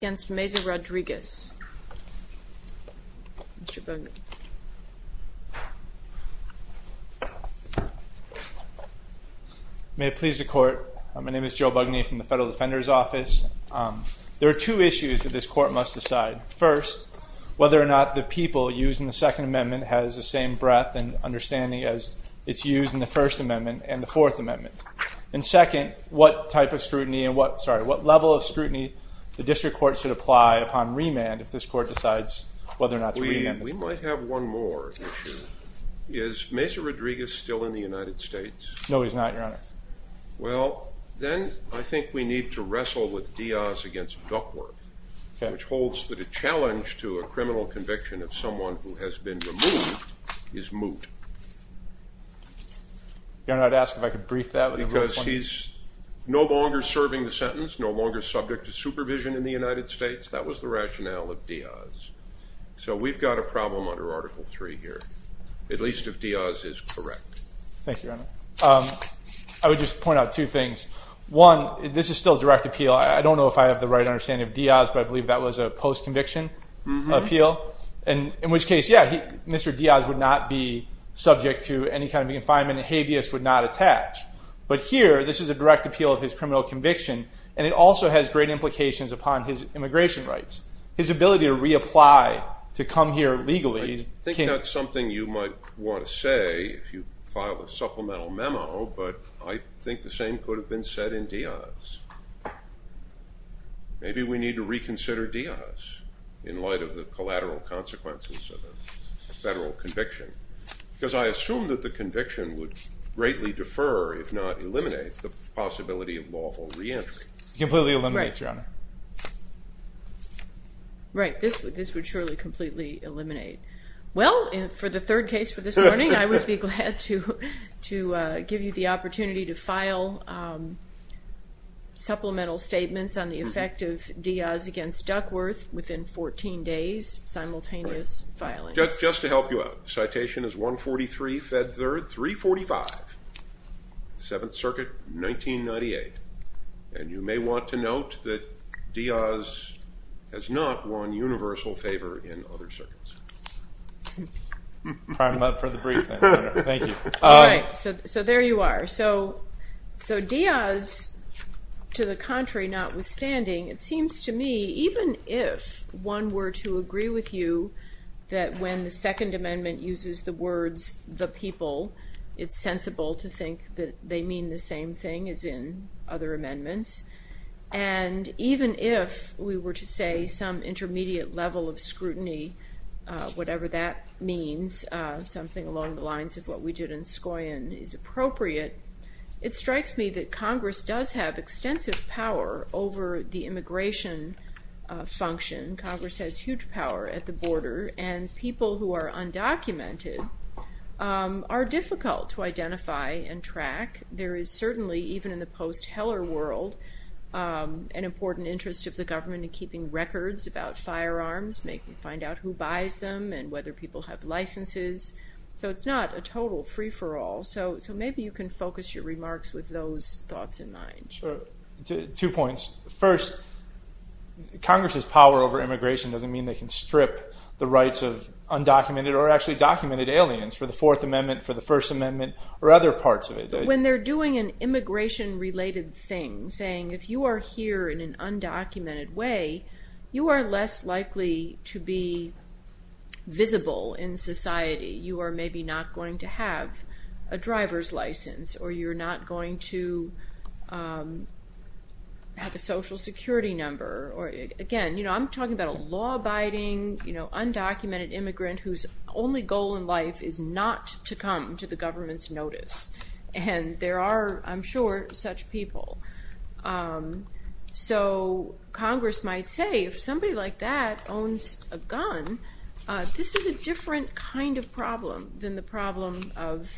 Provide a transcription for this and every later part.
against Meza-Rodriguez. May it please the court, my name is Joe Bugney from the Federal Defender's Office. There are two issues that this court must decide. First, whether or not the people using the Second Amendment has the same breadth and understanding as it's used in the First Amendment and the Fourth Amendment. And second, what level of scrutiny the district court should apply upon remand if this court decides whether or not to remand this person. We might have one more issue. Is Meza-Rodriguez still in the United States? No, he's not, Your Honor. Well, then I think we need to wrestle with Diaz against Duckworth, which holds that a challenge to a criminal conviction of someone who has been removed is moot. Your Honor, I'd ask if I could brief that with a real point of view. Because he's no longer serving the sentence, no longer subject to supervision in the United States. That was the rationale of Diaz. So we've got a problem under Article III here, at least if Diaz is correct. Thank you, Your Honor. I would just point out two things. One, this is still direct appeal. I don't know if I have the right understanding of Diaz, but I believe that was a post-conviction appeal. And in which case, yeah, Mr. Diaz would not be subject to any kind of confinement. A habeas would not attach. But here, this is a direct appeal of his criminal conviction. And it also has great implications upon his immigration rights. His ability to reapply, to come here legally. I think that's something you might want to say if you file a supplemental memo. But I think the same could have been said in Diaz. Maybe we need to reconsider Diaz in light of the collateral consequences of a federal conviction. Because I assume that the conviction would greatly defer, if not eliminate, the possibility of lawful re-entry. Completely eliminates, Your Honor. Right, this would surely completely eliminate. Well, for the third case for this morning, I would be glad to give you the opportunity to file supplemental statements on the effect of Diaz against Duckworth within 14 days, simultaneous filing. Just to help you out, citation is 143, fed third, 345. Seventh Circuit, 1998. And you may want to note that Diaz has not won universal favor in other circuits. Pardon about for the brief, I don't know. Thank you. All right, so there you are. So Diaz, to the contrary, notwithstanding, it seems to me, even if one were to agree with you that when the Second Amendment uses the words, the people, it's sensible to think that they mean the same thing as in other amendments. And even if we were to say some intermediate level of scrutiny, whatever that means, something along the lines of what we did in Skoyan is appropriate, it strikes me that Congress does have extensive power over the immigration function. Congress has huge power at the border. And people who are undocumented are difficult to identify and track. There is certainly, even in the post-Heller world, an important interest of the government in keeping records about firearms, making, find out who buys them and whether people have licenses. So it's not a total free-for-all. So maybe you can focus your remarks with those thoughts in mind. Sure, two points. First, Congress's power over immigration doesn't mean they can strip the rights of undocumented or actually documented aliens for the Fourth Amendment, for the First Amendment, or other parts of it. When they're doing an immigration-related thing, saying if you are here in an undocumented way, you are less likely to be visible in society. You are maybe not going to have a driver's license or you're not going to have a social security number. Again, I'm talking about a law-abiding, undocumented immigrant whose only goal in life is not to come to the government's notice. And there are, I'm sure, such people. So Congress might say, if somebody like that owns a gun, this is a different kind of problem than the problem of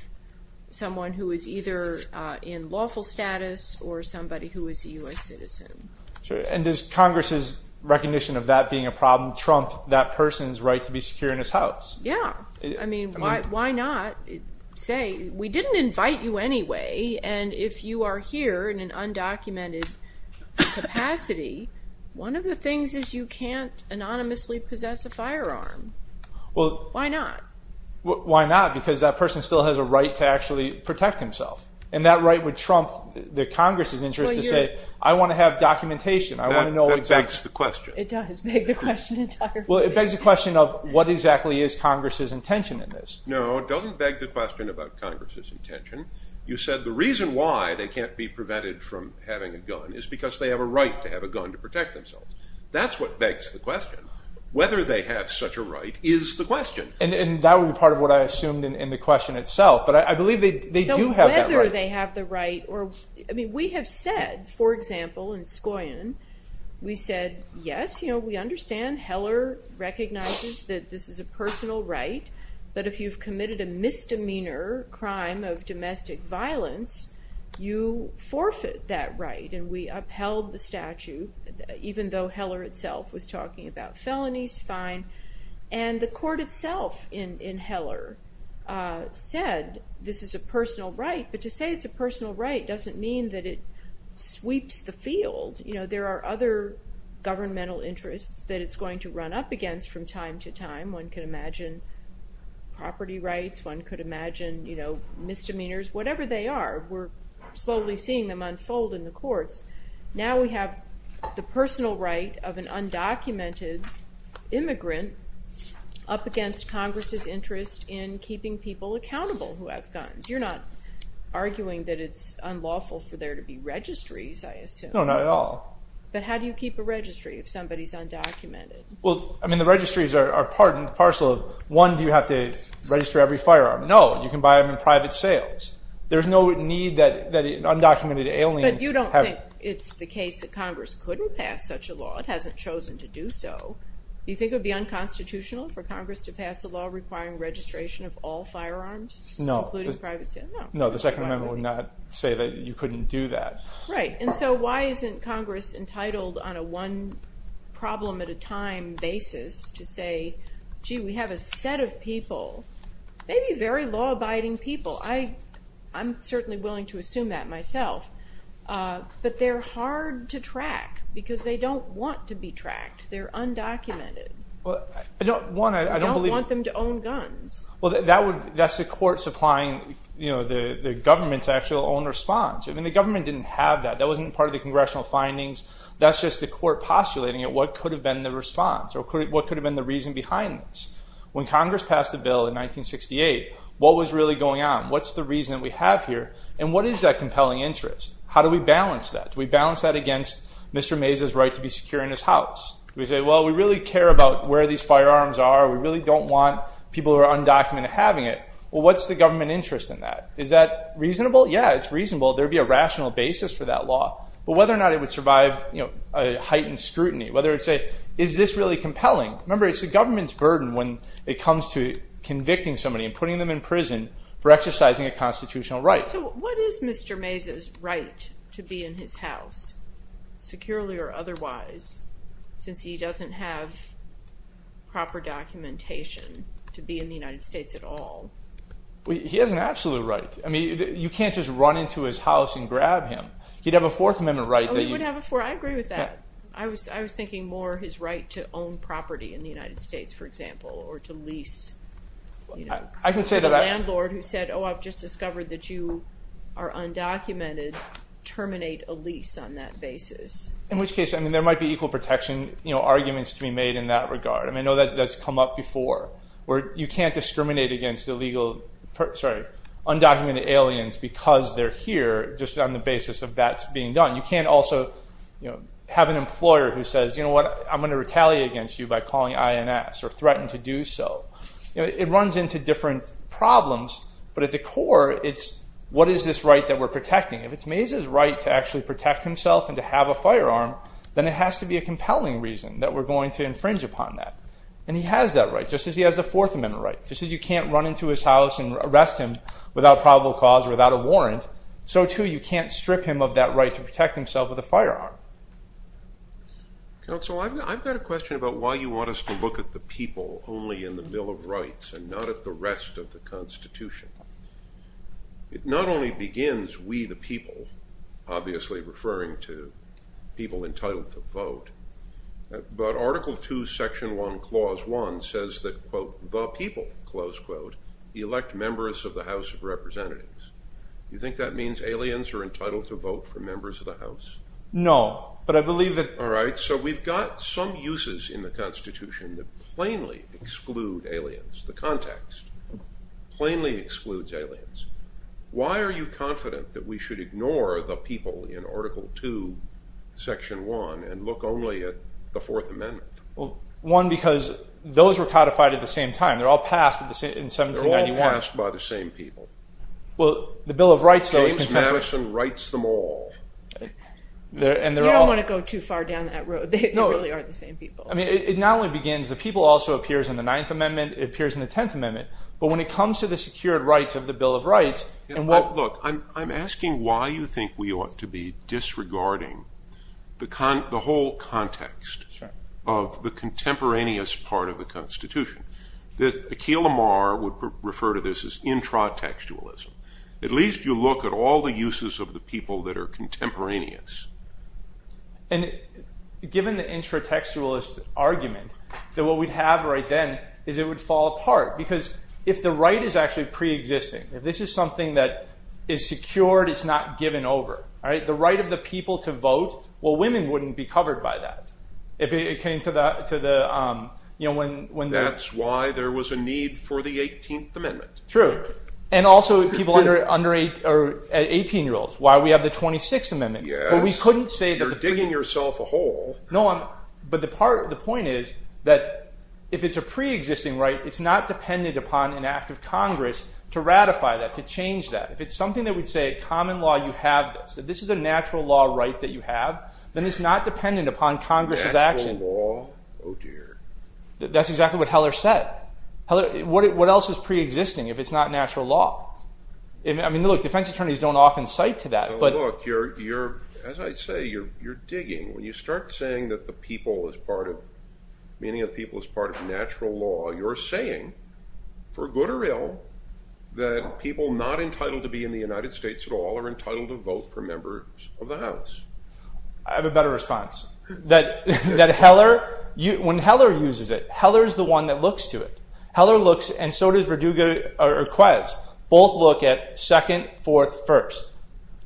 someone who is either in lawful status or somebody who is a U.S. citizen. Sure, and does Congress's recognition of that being a problem trump that person's right to be secure in his house? Yeah, I mean, why not? Say, we didn't invite you anyway, and if you are here in an undocumented capacity, one of the things is you can't anonymously possess a firearm. Well, why not? Why not? Because that person still has a right to actually protect himself. And that right would trump the Congress's interest to say, I want to have documentation. I want to know exactly. That begs the question. It does beg the question entirely. Well, it begs the question of, what exactly is Congress's intention in this? No, it doesn't beg the question about Congress's intention. You said the reason why they can't be prevented from having a gun is because they have a right to have a gun to protect themselves. That's what begs the question. Whether they have such a right is the question. And that would be part of what I assumed in the question itself. But I believe they do have that right. So whether they have the right, I mean, we have said, for example, in Scoyon, we said, yes, we understand Heller recognizes that this is a personal right. But if you've committed a misdemeanor crime of domestic violence, you forfeit that right. And we upheld the statute, even though Heller itself was talking about felonies, fine. And the court itself in Heller said, this is a personal right. But to say it's a personal right doesn't mean that it sweeps the field. There are other governmental interests that it's going to run up against from time to time. One can imagine property rights. One could imagine misdemeanors, whatever they are. We're slowly seeing them unfold in the courts. Now we have the personal right of an undocumented immigrant up against Congress's interest in keeping people accountable who have guns. You're not arguing that it's unlawful for there to be registries, I assume. No, not at all. But how do you keep a registry if somebody's undocumented? Well, I mean, the registries are part and parcel of, one, do you have to register every firearm? No, you can buy them in private sales. There's no need that an undocumented alien have- But you don't think it's the case that Congress couldn't pass such a law. It hasn't chosen to do so. Do you think it would be unconstitutional for Congress to pass a law requiring registration of all firearms, including private sales? No, the Second Amendment would not say that you couldn't do that. Right, and so why isn't Congress entitled on a one-problem-at-a-time basis to say, gee, we have a set of people, maybe very law-abiding people. I'm certainly willing to assume that myself. But they're hard to track because they don't want to be tracked. They're undocumented. You don't want them to own guns. That's the court supplying the government's actual own response. I mean, the government didn't have that. That wasn't part of the congressional findings. That's just the court postulating at what could have been the response or what could have been the reason behind this. When Congress passed the bill in 1968, what was really going on? What's the reason that we have here? And what is that compelling interest? How do we balance that? Do we balance that against Mr. Mesa's right to be secure in his house? Do we say, well, we really care about where these firearms are. We really don't want people who are undocumented having it. Well, what's the government interest in that? Is that reasonable? Yeah, it's reasonable. There'd be a rational basis for that law. But whether or not it would survive a heightened scrutiny, whether it's a, is this really compelling? Remember, it's the government's burden when it comes to convicting somebody and putting them in prison for exercising a constitutional right. So what is Mr. Mesa's right to be in his house, securely or otherwise, since he doesn't have proper documentation to be in the United States at all? Well, he has an absolute right. I mean, you can't just run into his house and grab him. He'd have a Fourth Amendment right that you- Oh, he would have a Fourth, I agree with that. I was thinking more his right to own property in the United States, for example, or to lease. I can say that I- A landlord who said, oh, I've just discovered that you are undocumented, terminate a lease on that basis. In which case, I mean, there might be equal protection arguments to be made in that regard. I mean, I know that's come up before, where you can't discriminate against illegal, sorry, undocumented aliens because they're here just on the basis of that's being done. You can't also have an employer who says, you know what, I'm gonna retaliate against you by calling INS or threaten to do so. It runs into different problems, but at the core, it's what is this right that we're protecting? If it's Mesa's right to actually protect himself and to have a firearm, then it has to be a compelling reason that we're going to infringe upon that. And he has that right, just as he has the Fourth Amendment right. Just as you can't run into his house and arrest him without probable cause or without a warrant, so too you can't strip him of that right to protect himself with a firearm. Counsel, I've got a question about why you want us to look at the people only in the Bill of Rights and not at the rest of the Constitution. It not only begins we the people, obviously referring to people entitled to vote, but Article II, Section 1, Clause 1 says that, quote, the people, close quote, elect members of the House of Representatives. You think that means aliens are entitled to vote for members of the House? No, but I believe that- All right, so we've got some uses in the Constitution that plainly exclude aliens. The context plainly excludes aliens. Why are you confident that we should ignore the people in Article II, Section 1 and look only at the Fourth Amendment? Well, one, because those were codified at the same time. They're all passed in 1791. They're all passed by the same people. Well, the Bill of Rights, though, is- James Madison writes them all. You don't want to go too far down that road. They really are the same people. I mean, it not only begins the people also appears in the Ninth Amendment. It appears in the Tenth Amendment. But when it comes to the secured rights of the Bill of Rights, and what- Look, I'm asking why you think we ought to be disregarding the whole context of the contemporaneous part of the Constitution. Akhil Amar would refer to this as intratextualism. At least you look at all the uses of the people that are contemporaneous. And given the intratextualist argument that what we'd have right then is it would fall apart because if the right is actually pre-existing, if this is something that is secured, it's not given over. The right of the people to vote, well, women wouldn't be covered by that. If it came to the, you know, when- That's why there was a need for the 18th Amendment. True. And also people under 18-year-olds, why we have the 26th Amendment. Yes. But we couldn't say that- You're digging yourself a hole. No, but the point is that if it's a pre-existing right, it's not dependent upon an act of Congress to ratify that, to change that. If it's something that would say, common law, you have this, that this is a natural law right that you have, then it's not dependent upon Congress's action. Natural law, oh dear. That's exactly what Heller said. What else is pre-existing if it's not natural law? I mean, look, defense attorneys don't often cite to that, but- No, look, you're, as I say, you're digging. When you start saying that the people is part of, meaning of the people is part of natural law, you're saying, for good or ill, that people not entitled to be in the United States at all are entitled to vote for members of the House. I have a better response. That Heller, when Heller uses it, Heller's the one that looks to it. Heller looks, and so does Verdugo or Quez. Both look at second, fourth, first.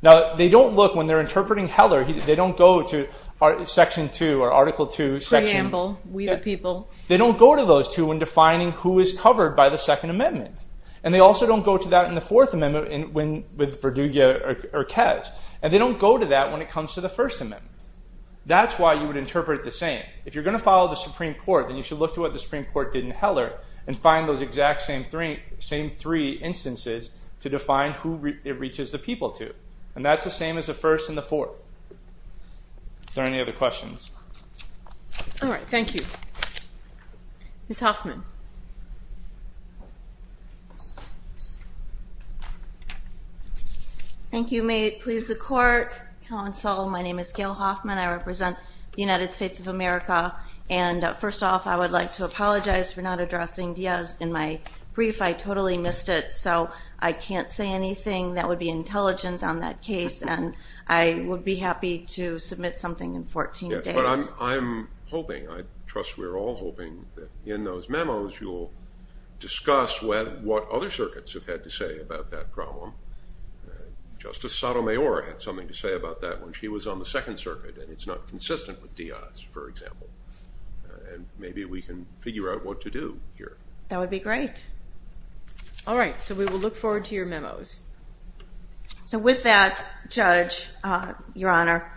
Now, they don't look, when they're interpreting Heller, they don't go to section two or article two, section- Preamble, we the people. They don't go to those two when defining who is covered by the second amendment. And they also don't go to that in the fourth amendment with Verdugo or Quez. And they don't go to that when it comes to the first amendment. That's why you would interpret it the same. If you're gonna follow the Supreme Court, then you should look to what the Supreme Court did in Heller and find those exact same three instances to define who it reaches the people to. And that's the same as the first and the fourth. Are there any other questions? All right, thank you. Ms. Hoffman. Thank you, may it please the court, counsel. My name is Gail Hoffman. I represent the United States of America. And first off, I would like to apologize for not addressing Diaz in my brief. I totally missed it. So I can't say anything that would be intelligent on that case. And I would be happy to submit something in 14 days. But I'm hoping, I trust we're all hoping that in those memos, you'll discuss what other circuits have had to say about that problem. Justice Sotomayor had something to say about that when she was on the second circuit and it's not consistent with Diaz, for example. And maybe we can figure out what to do here. That would be great. All right, so we will look forward to your memos. So with that, Judge, Your Honor,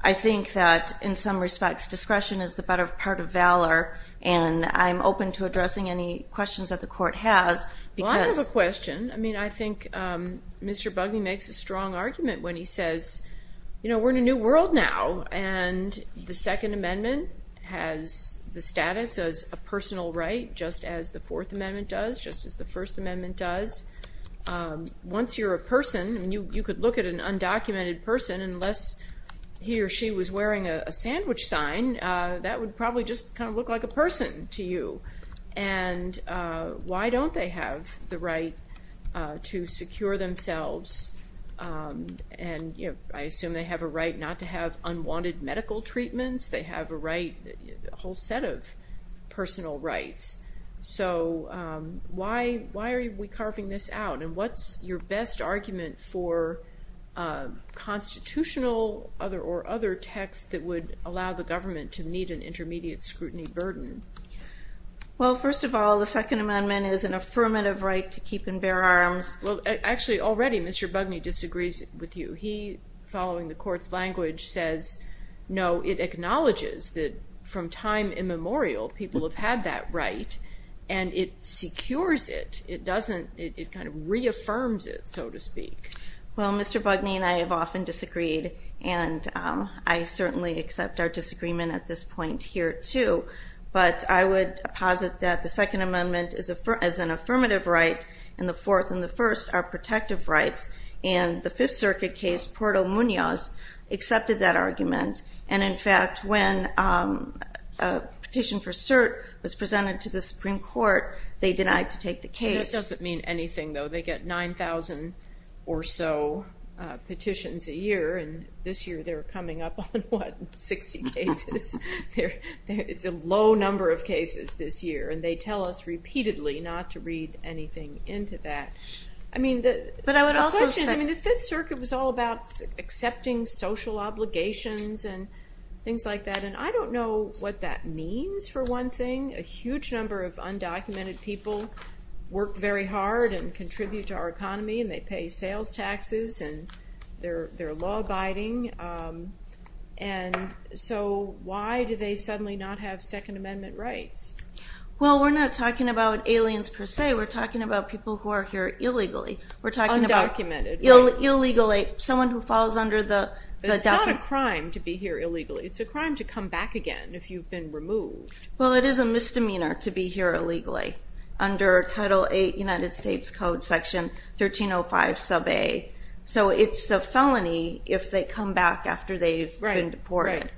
I think that in some respects, discretion is the better part of valor. And I'm open to addressing any questions that the court has. Well, I have a question. I mean, I think Mr. Bugney makes a strong argument when he says, you know, we're in a new world now. And the Second Amendment has the status as a personal right, just as the Fourth Amendment does, just as the First Amendment does. Once you're a person, and you could look at an undocumented person and unless he or she was wearing a sandwich sign, that would probably just kind of look like a person to you. And why don't they have the right to secure themselves? And, you know, I assume they have a right not to have unwanted medical treatments. They have a right, a whole set of personal rights. So why are we carving this out? And what's your best argument for constitutional or other texts that would allow the government to meet an intermediate scrutiny burden? Well, first of all, the Second Amendment is an affirmative right to keep and bear arms. Well, actually, already, Mr. Bugney disagrees with you. He, following the court's language, says, no, it acknowledges that from time immemorial, people have had that right, and it secures it. It kind of reaffirms it, so to speak. Well, Mr. Bugney and I have often disagreed, and I certainly accept our disagreement at this point here, too. But I would posit that the Second Amendment is an affirmative right, and the Fourth and the First are protective rights. And the Fifth Circuit case, Puerto Munoz, accepted that argument. And in fact, when a petition for cert was presented to the Supreme Court, they denied to take the case. That doesn't mean anything, though. They get 9,000 or so petitions a year, and this year, they're coming up on, what, 60 cases? It's a low number of cases this year, and they tell us repeatedly not to read anything into that. But I would also say- I mean, the Fifth Circuit was all about accepting social obligations and things like that, and I don't know what that means, for one thing. A huge number of undocumented people work very hard and contribute to our economy, and they pay sales taxes, and they're law-abiding. And so, why do they suddenly not have Second Amendment rights? Well, we're not talking about aliens, per se. We're talking about people who are here illegally. We're talking about- Undocumented. Illegally, someone who falls under the- But it's not a crime to be here illegally. It's a crime to come back again if you've been removed. Well, it is a misdemeanor to be here illegally under Title VIII United States Code, Section 1305, Sub A. So, it's the felony if they come back after they've been deported.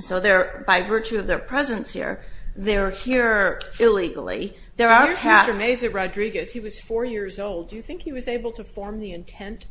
So, by virtue of their presence here, they're here illegally. There are past- Here's Mr. Mazur-Rodriguez. He was four years old. Do you think he was able to form the intent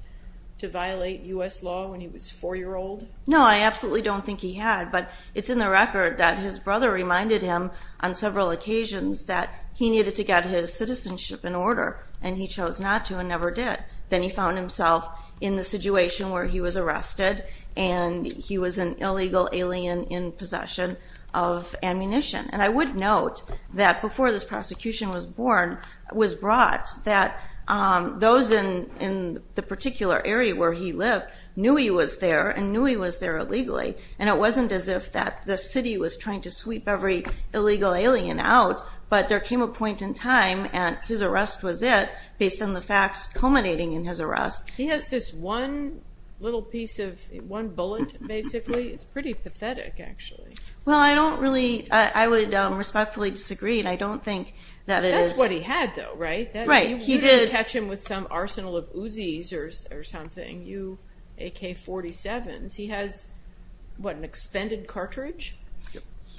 to violate U.S. law when he was four-year-old? No, I absolutely don't think he had, but it's in the record that his brother reminded him on several occasions that he needed to get his citizenship in order, and he chose not to and never did. Then he found himself in the situation where he was arrested, and he was an illegal alien in possession of ammunition. And I would note that before this prosecution was brought, that those in the particular area where he lived knew he was there and knew he was there illegally, and it wasn't as if that the city was trying to sweep every illegal alien out, but there came a point in time, and his arrest was it, based on the facts culminating in his arrest. He has this one little piece of, one bullet, basically. It's pretty pathetic, actually. Well, I don't really, I would respectfully disagree, and I don't think that it is- That's what he had, though, right? Right, he did- You didn't catch him with some arsenal of Uzis or something, you AK-47s. He has, what, an expended cartridge?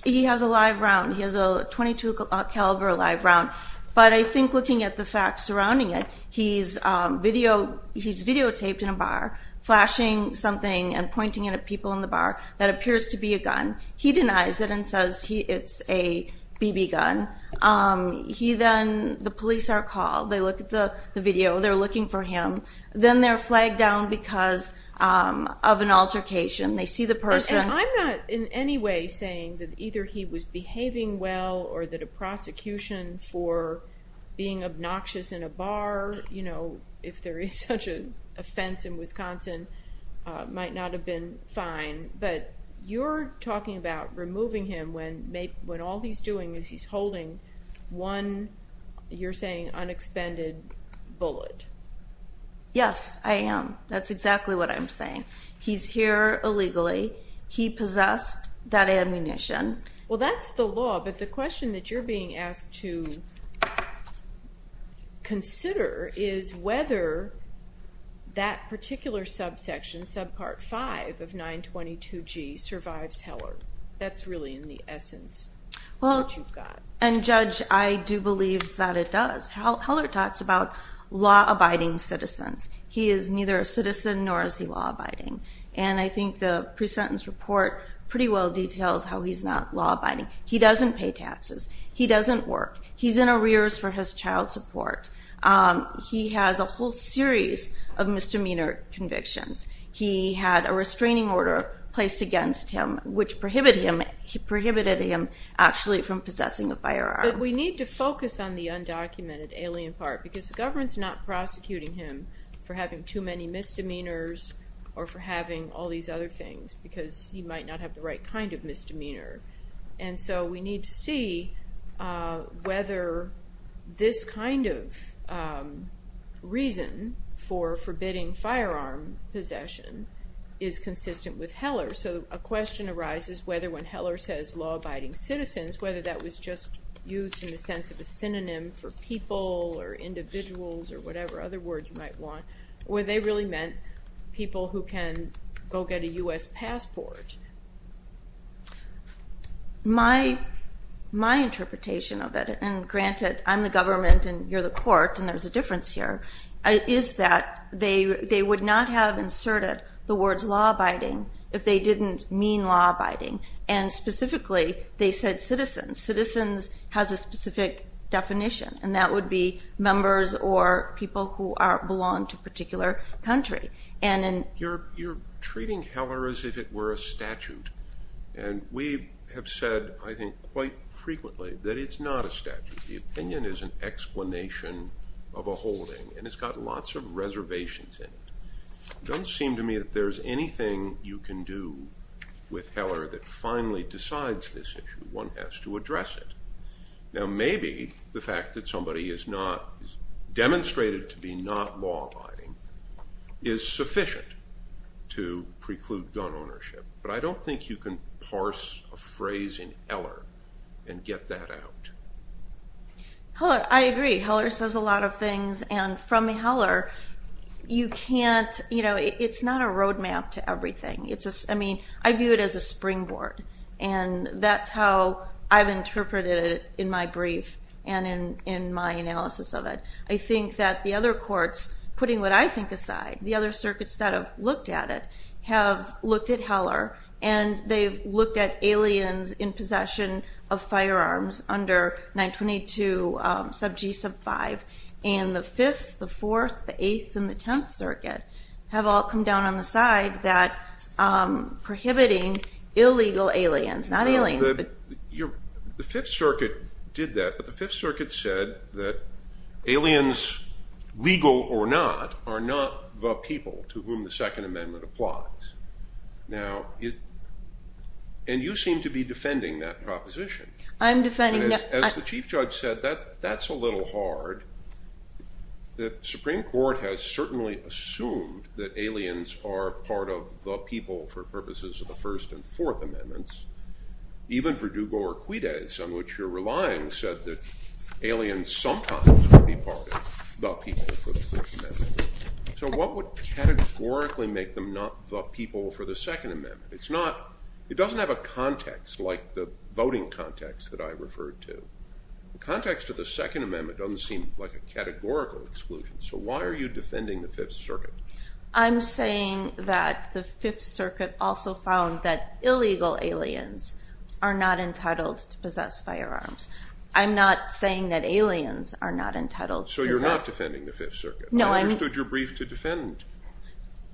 He has a live round. He has a .22 caliber live round, but I think looking at the facts surrounding it, he's videotaped in a bar, flashing something and pointing it at people in the bar that appears to be a gun. He denies it and says it's a BB gun. The police are called. They look at the video. They're looking for him. Then they're flagged down because of an altercation. They see the person- And I'm not in any way saying that either he was behaving well or that a prosecution for being obnoxious in a bar, if there is such an offense in Wisconsin, might not have been fine, but you're talking about removing him when all he's doing is he's holding one, you're saying, unexpended bullet. Yes, I am. That's exactly what I'm saying. He's here illegally. He possessed that ammunition. Well, that's the law, but the question that you're being asked to consider is whether that particular subsection, subpart five of 922G, survives Heller. That's really in the essence what you've got. And Judge, I do believe that it does. Heller talks about law-abiding citizens. He is neither a citizen nor is he law-abiding. And I think the pre-sentence report pretty well details how he's not law-abiding. He doesn't pay taxes. He doesn't work. He's in arrears for his child support. He has a whole series of misdemeanor convictions. He had a restraining order placed against him, which prohibited him actually from possessing a firearm. We need to focus on the undocumented alien part because the government's not prosecuting him for having too many misdemeanors or for having all these other things because he might not have the right kind of misdemeanor. And so we need to see whether this kind of reason for forbidding firearm possession is consistent with Heller. So a question arises whether when Heller says law-abiding citizens, whether that was just used in the sense of a synonym for people or individuals or whatever other words you might want, where they really meant people who can go get a US passport. My interpretation of it, and granted, I'm the government and you're the court and there's a difference here, is that they would not have inserted the words law-abiding if they didn't mean law-abiding. And specifically, they said citizens. Citizens has a specific definition and that would be members or people who belong to a particular country. You're treating Heller as if it were a statute. And we have said, I think, quite frequently that it's not a statute. The opinion is an explanation of a holding and it's got lots of reservations in it. Don't seem to me that there's anything you can do with Heller that finally decides this issue. One has to address it. Now, maybe the fact that somebody is not, demonstrated to be not law-abiding is sufficient to preclude gun ownership. But I don't think you can parse a phrase in Heller and get that out. Heller, I agree. Heller says a lot of things. And from Heller, you can't, it's not a roadmap to everything. I mean, I view it as a springboard and that's how I've interpreted it in my brief and in my analysis of it. I think that the other courts, putting what I think aside, the other circuits that have looked at it have looked at Heller and they've looked at aliens in possession of firearms under 922 sub G sub five and the fifth, the fourth, the eighth and the 10th circuit have all come down on the side that prohibiting illegal aliens, not aliens, but. The fifth circuit did that, but the fifth circuit said that aliens, legal or not, are not the people to whom the second amendment applies. Now, and you seem to be defending that proposition. I'm defending. As the chief judge said, that's a little hard. The Supreme Court has certainly assumed that aliens are part of the people for purposes of the first and fourth amendments. Even for Dugore Quides, on which you're relying, said that aliens sometimes could be part of the people for the first amendment. So what would categorically make them not the people for the second amendment? It's not, it doesn't have a context like the voting context that I referred to. The context of the second amendment doesn't seem like a categorical exclusion. So why are you defending the fifth circuit? I'm saying that the fifth circuit also found that illegal aliens are not entitled to possess firearms. I'm not saying that aliens are not entitled to possess. So you're not defending the fifth circuit? No, I'm. I understood you're briefed to defend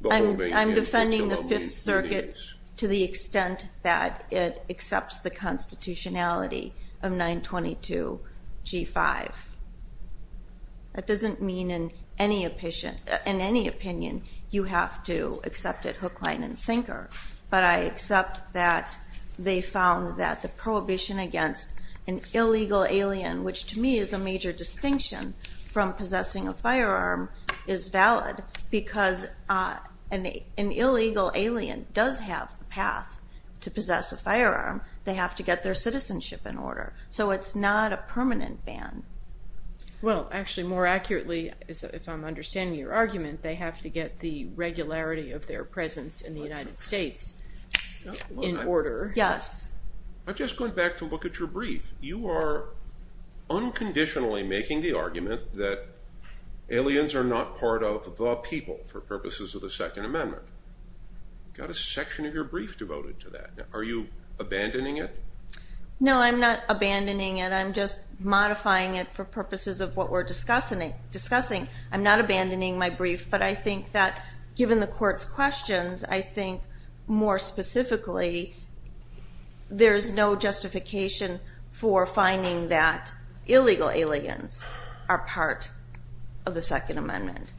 the whole thing. I'm defending the fifth circuit to the extent that it accepts the constitutionality of 922 G5. That doesn't mean in any opinion you have to accept it hook, line, and sinker. But I accept that they found that the prohibition against an illegal alien, which to me is a major distinction from possessing a firearm is valid because an illegal alien does have a path to possess a firearm. They have to get their citizenship in order. So it's not a permanent ban. Well, actually more accurately, if I'm understanding your argument, they have to get the regularity of their presence in the United States in order. Yes. I'm just going back to look at your brief. You are unconditionally making the argument that aliens are not part of the people for purposes of the second amendment. Got a section of your brief devoted to that. Are you abandoning it? No, I'm not abandoning it. I'm just modifying it for purposes of what we're discussing. I'm not abandoning my brief, but I think that given the court's questions, I think more specifically, there's no justification for finding that illegal aliens are part of the second amendment.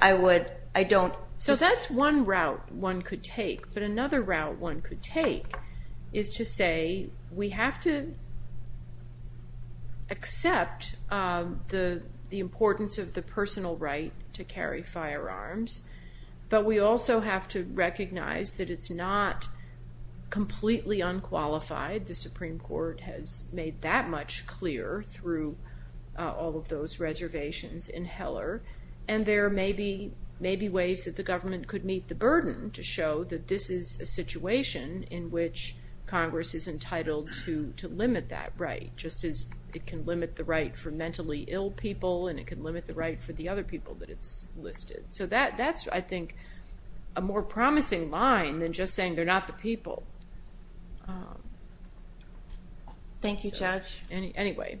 I would, I don't. So that's one route one could take, but another route one could take is to say, we have to accept the importance of the personal right to carry firearms, but we also have to recognize that it's not completely unqualified. The Supreme Court has made that much clear through all of those reservations in Heller. And there may be ways that the government could meet the burden to show that this is a situation in which Congress is entitled to limit that right, just as it can limit the right for mentally ill people and it can limit the right for the other people that it's listed. So that's, I think, a more promising line than just saying they're not the people. Thank you, Judge. Anyway,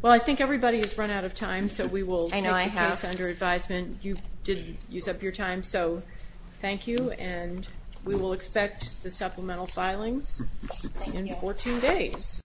well, I think everybody has run out of time, so we will take the case under advisement. You did use up your time, so thank you. And we will expect the supplemental filings in 14 days.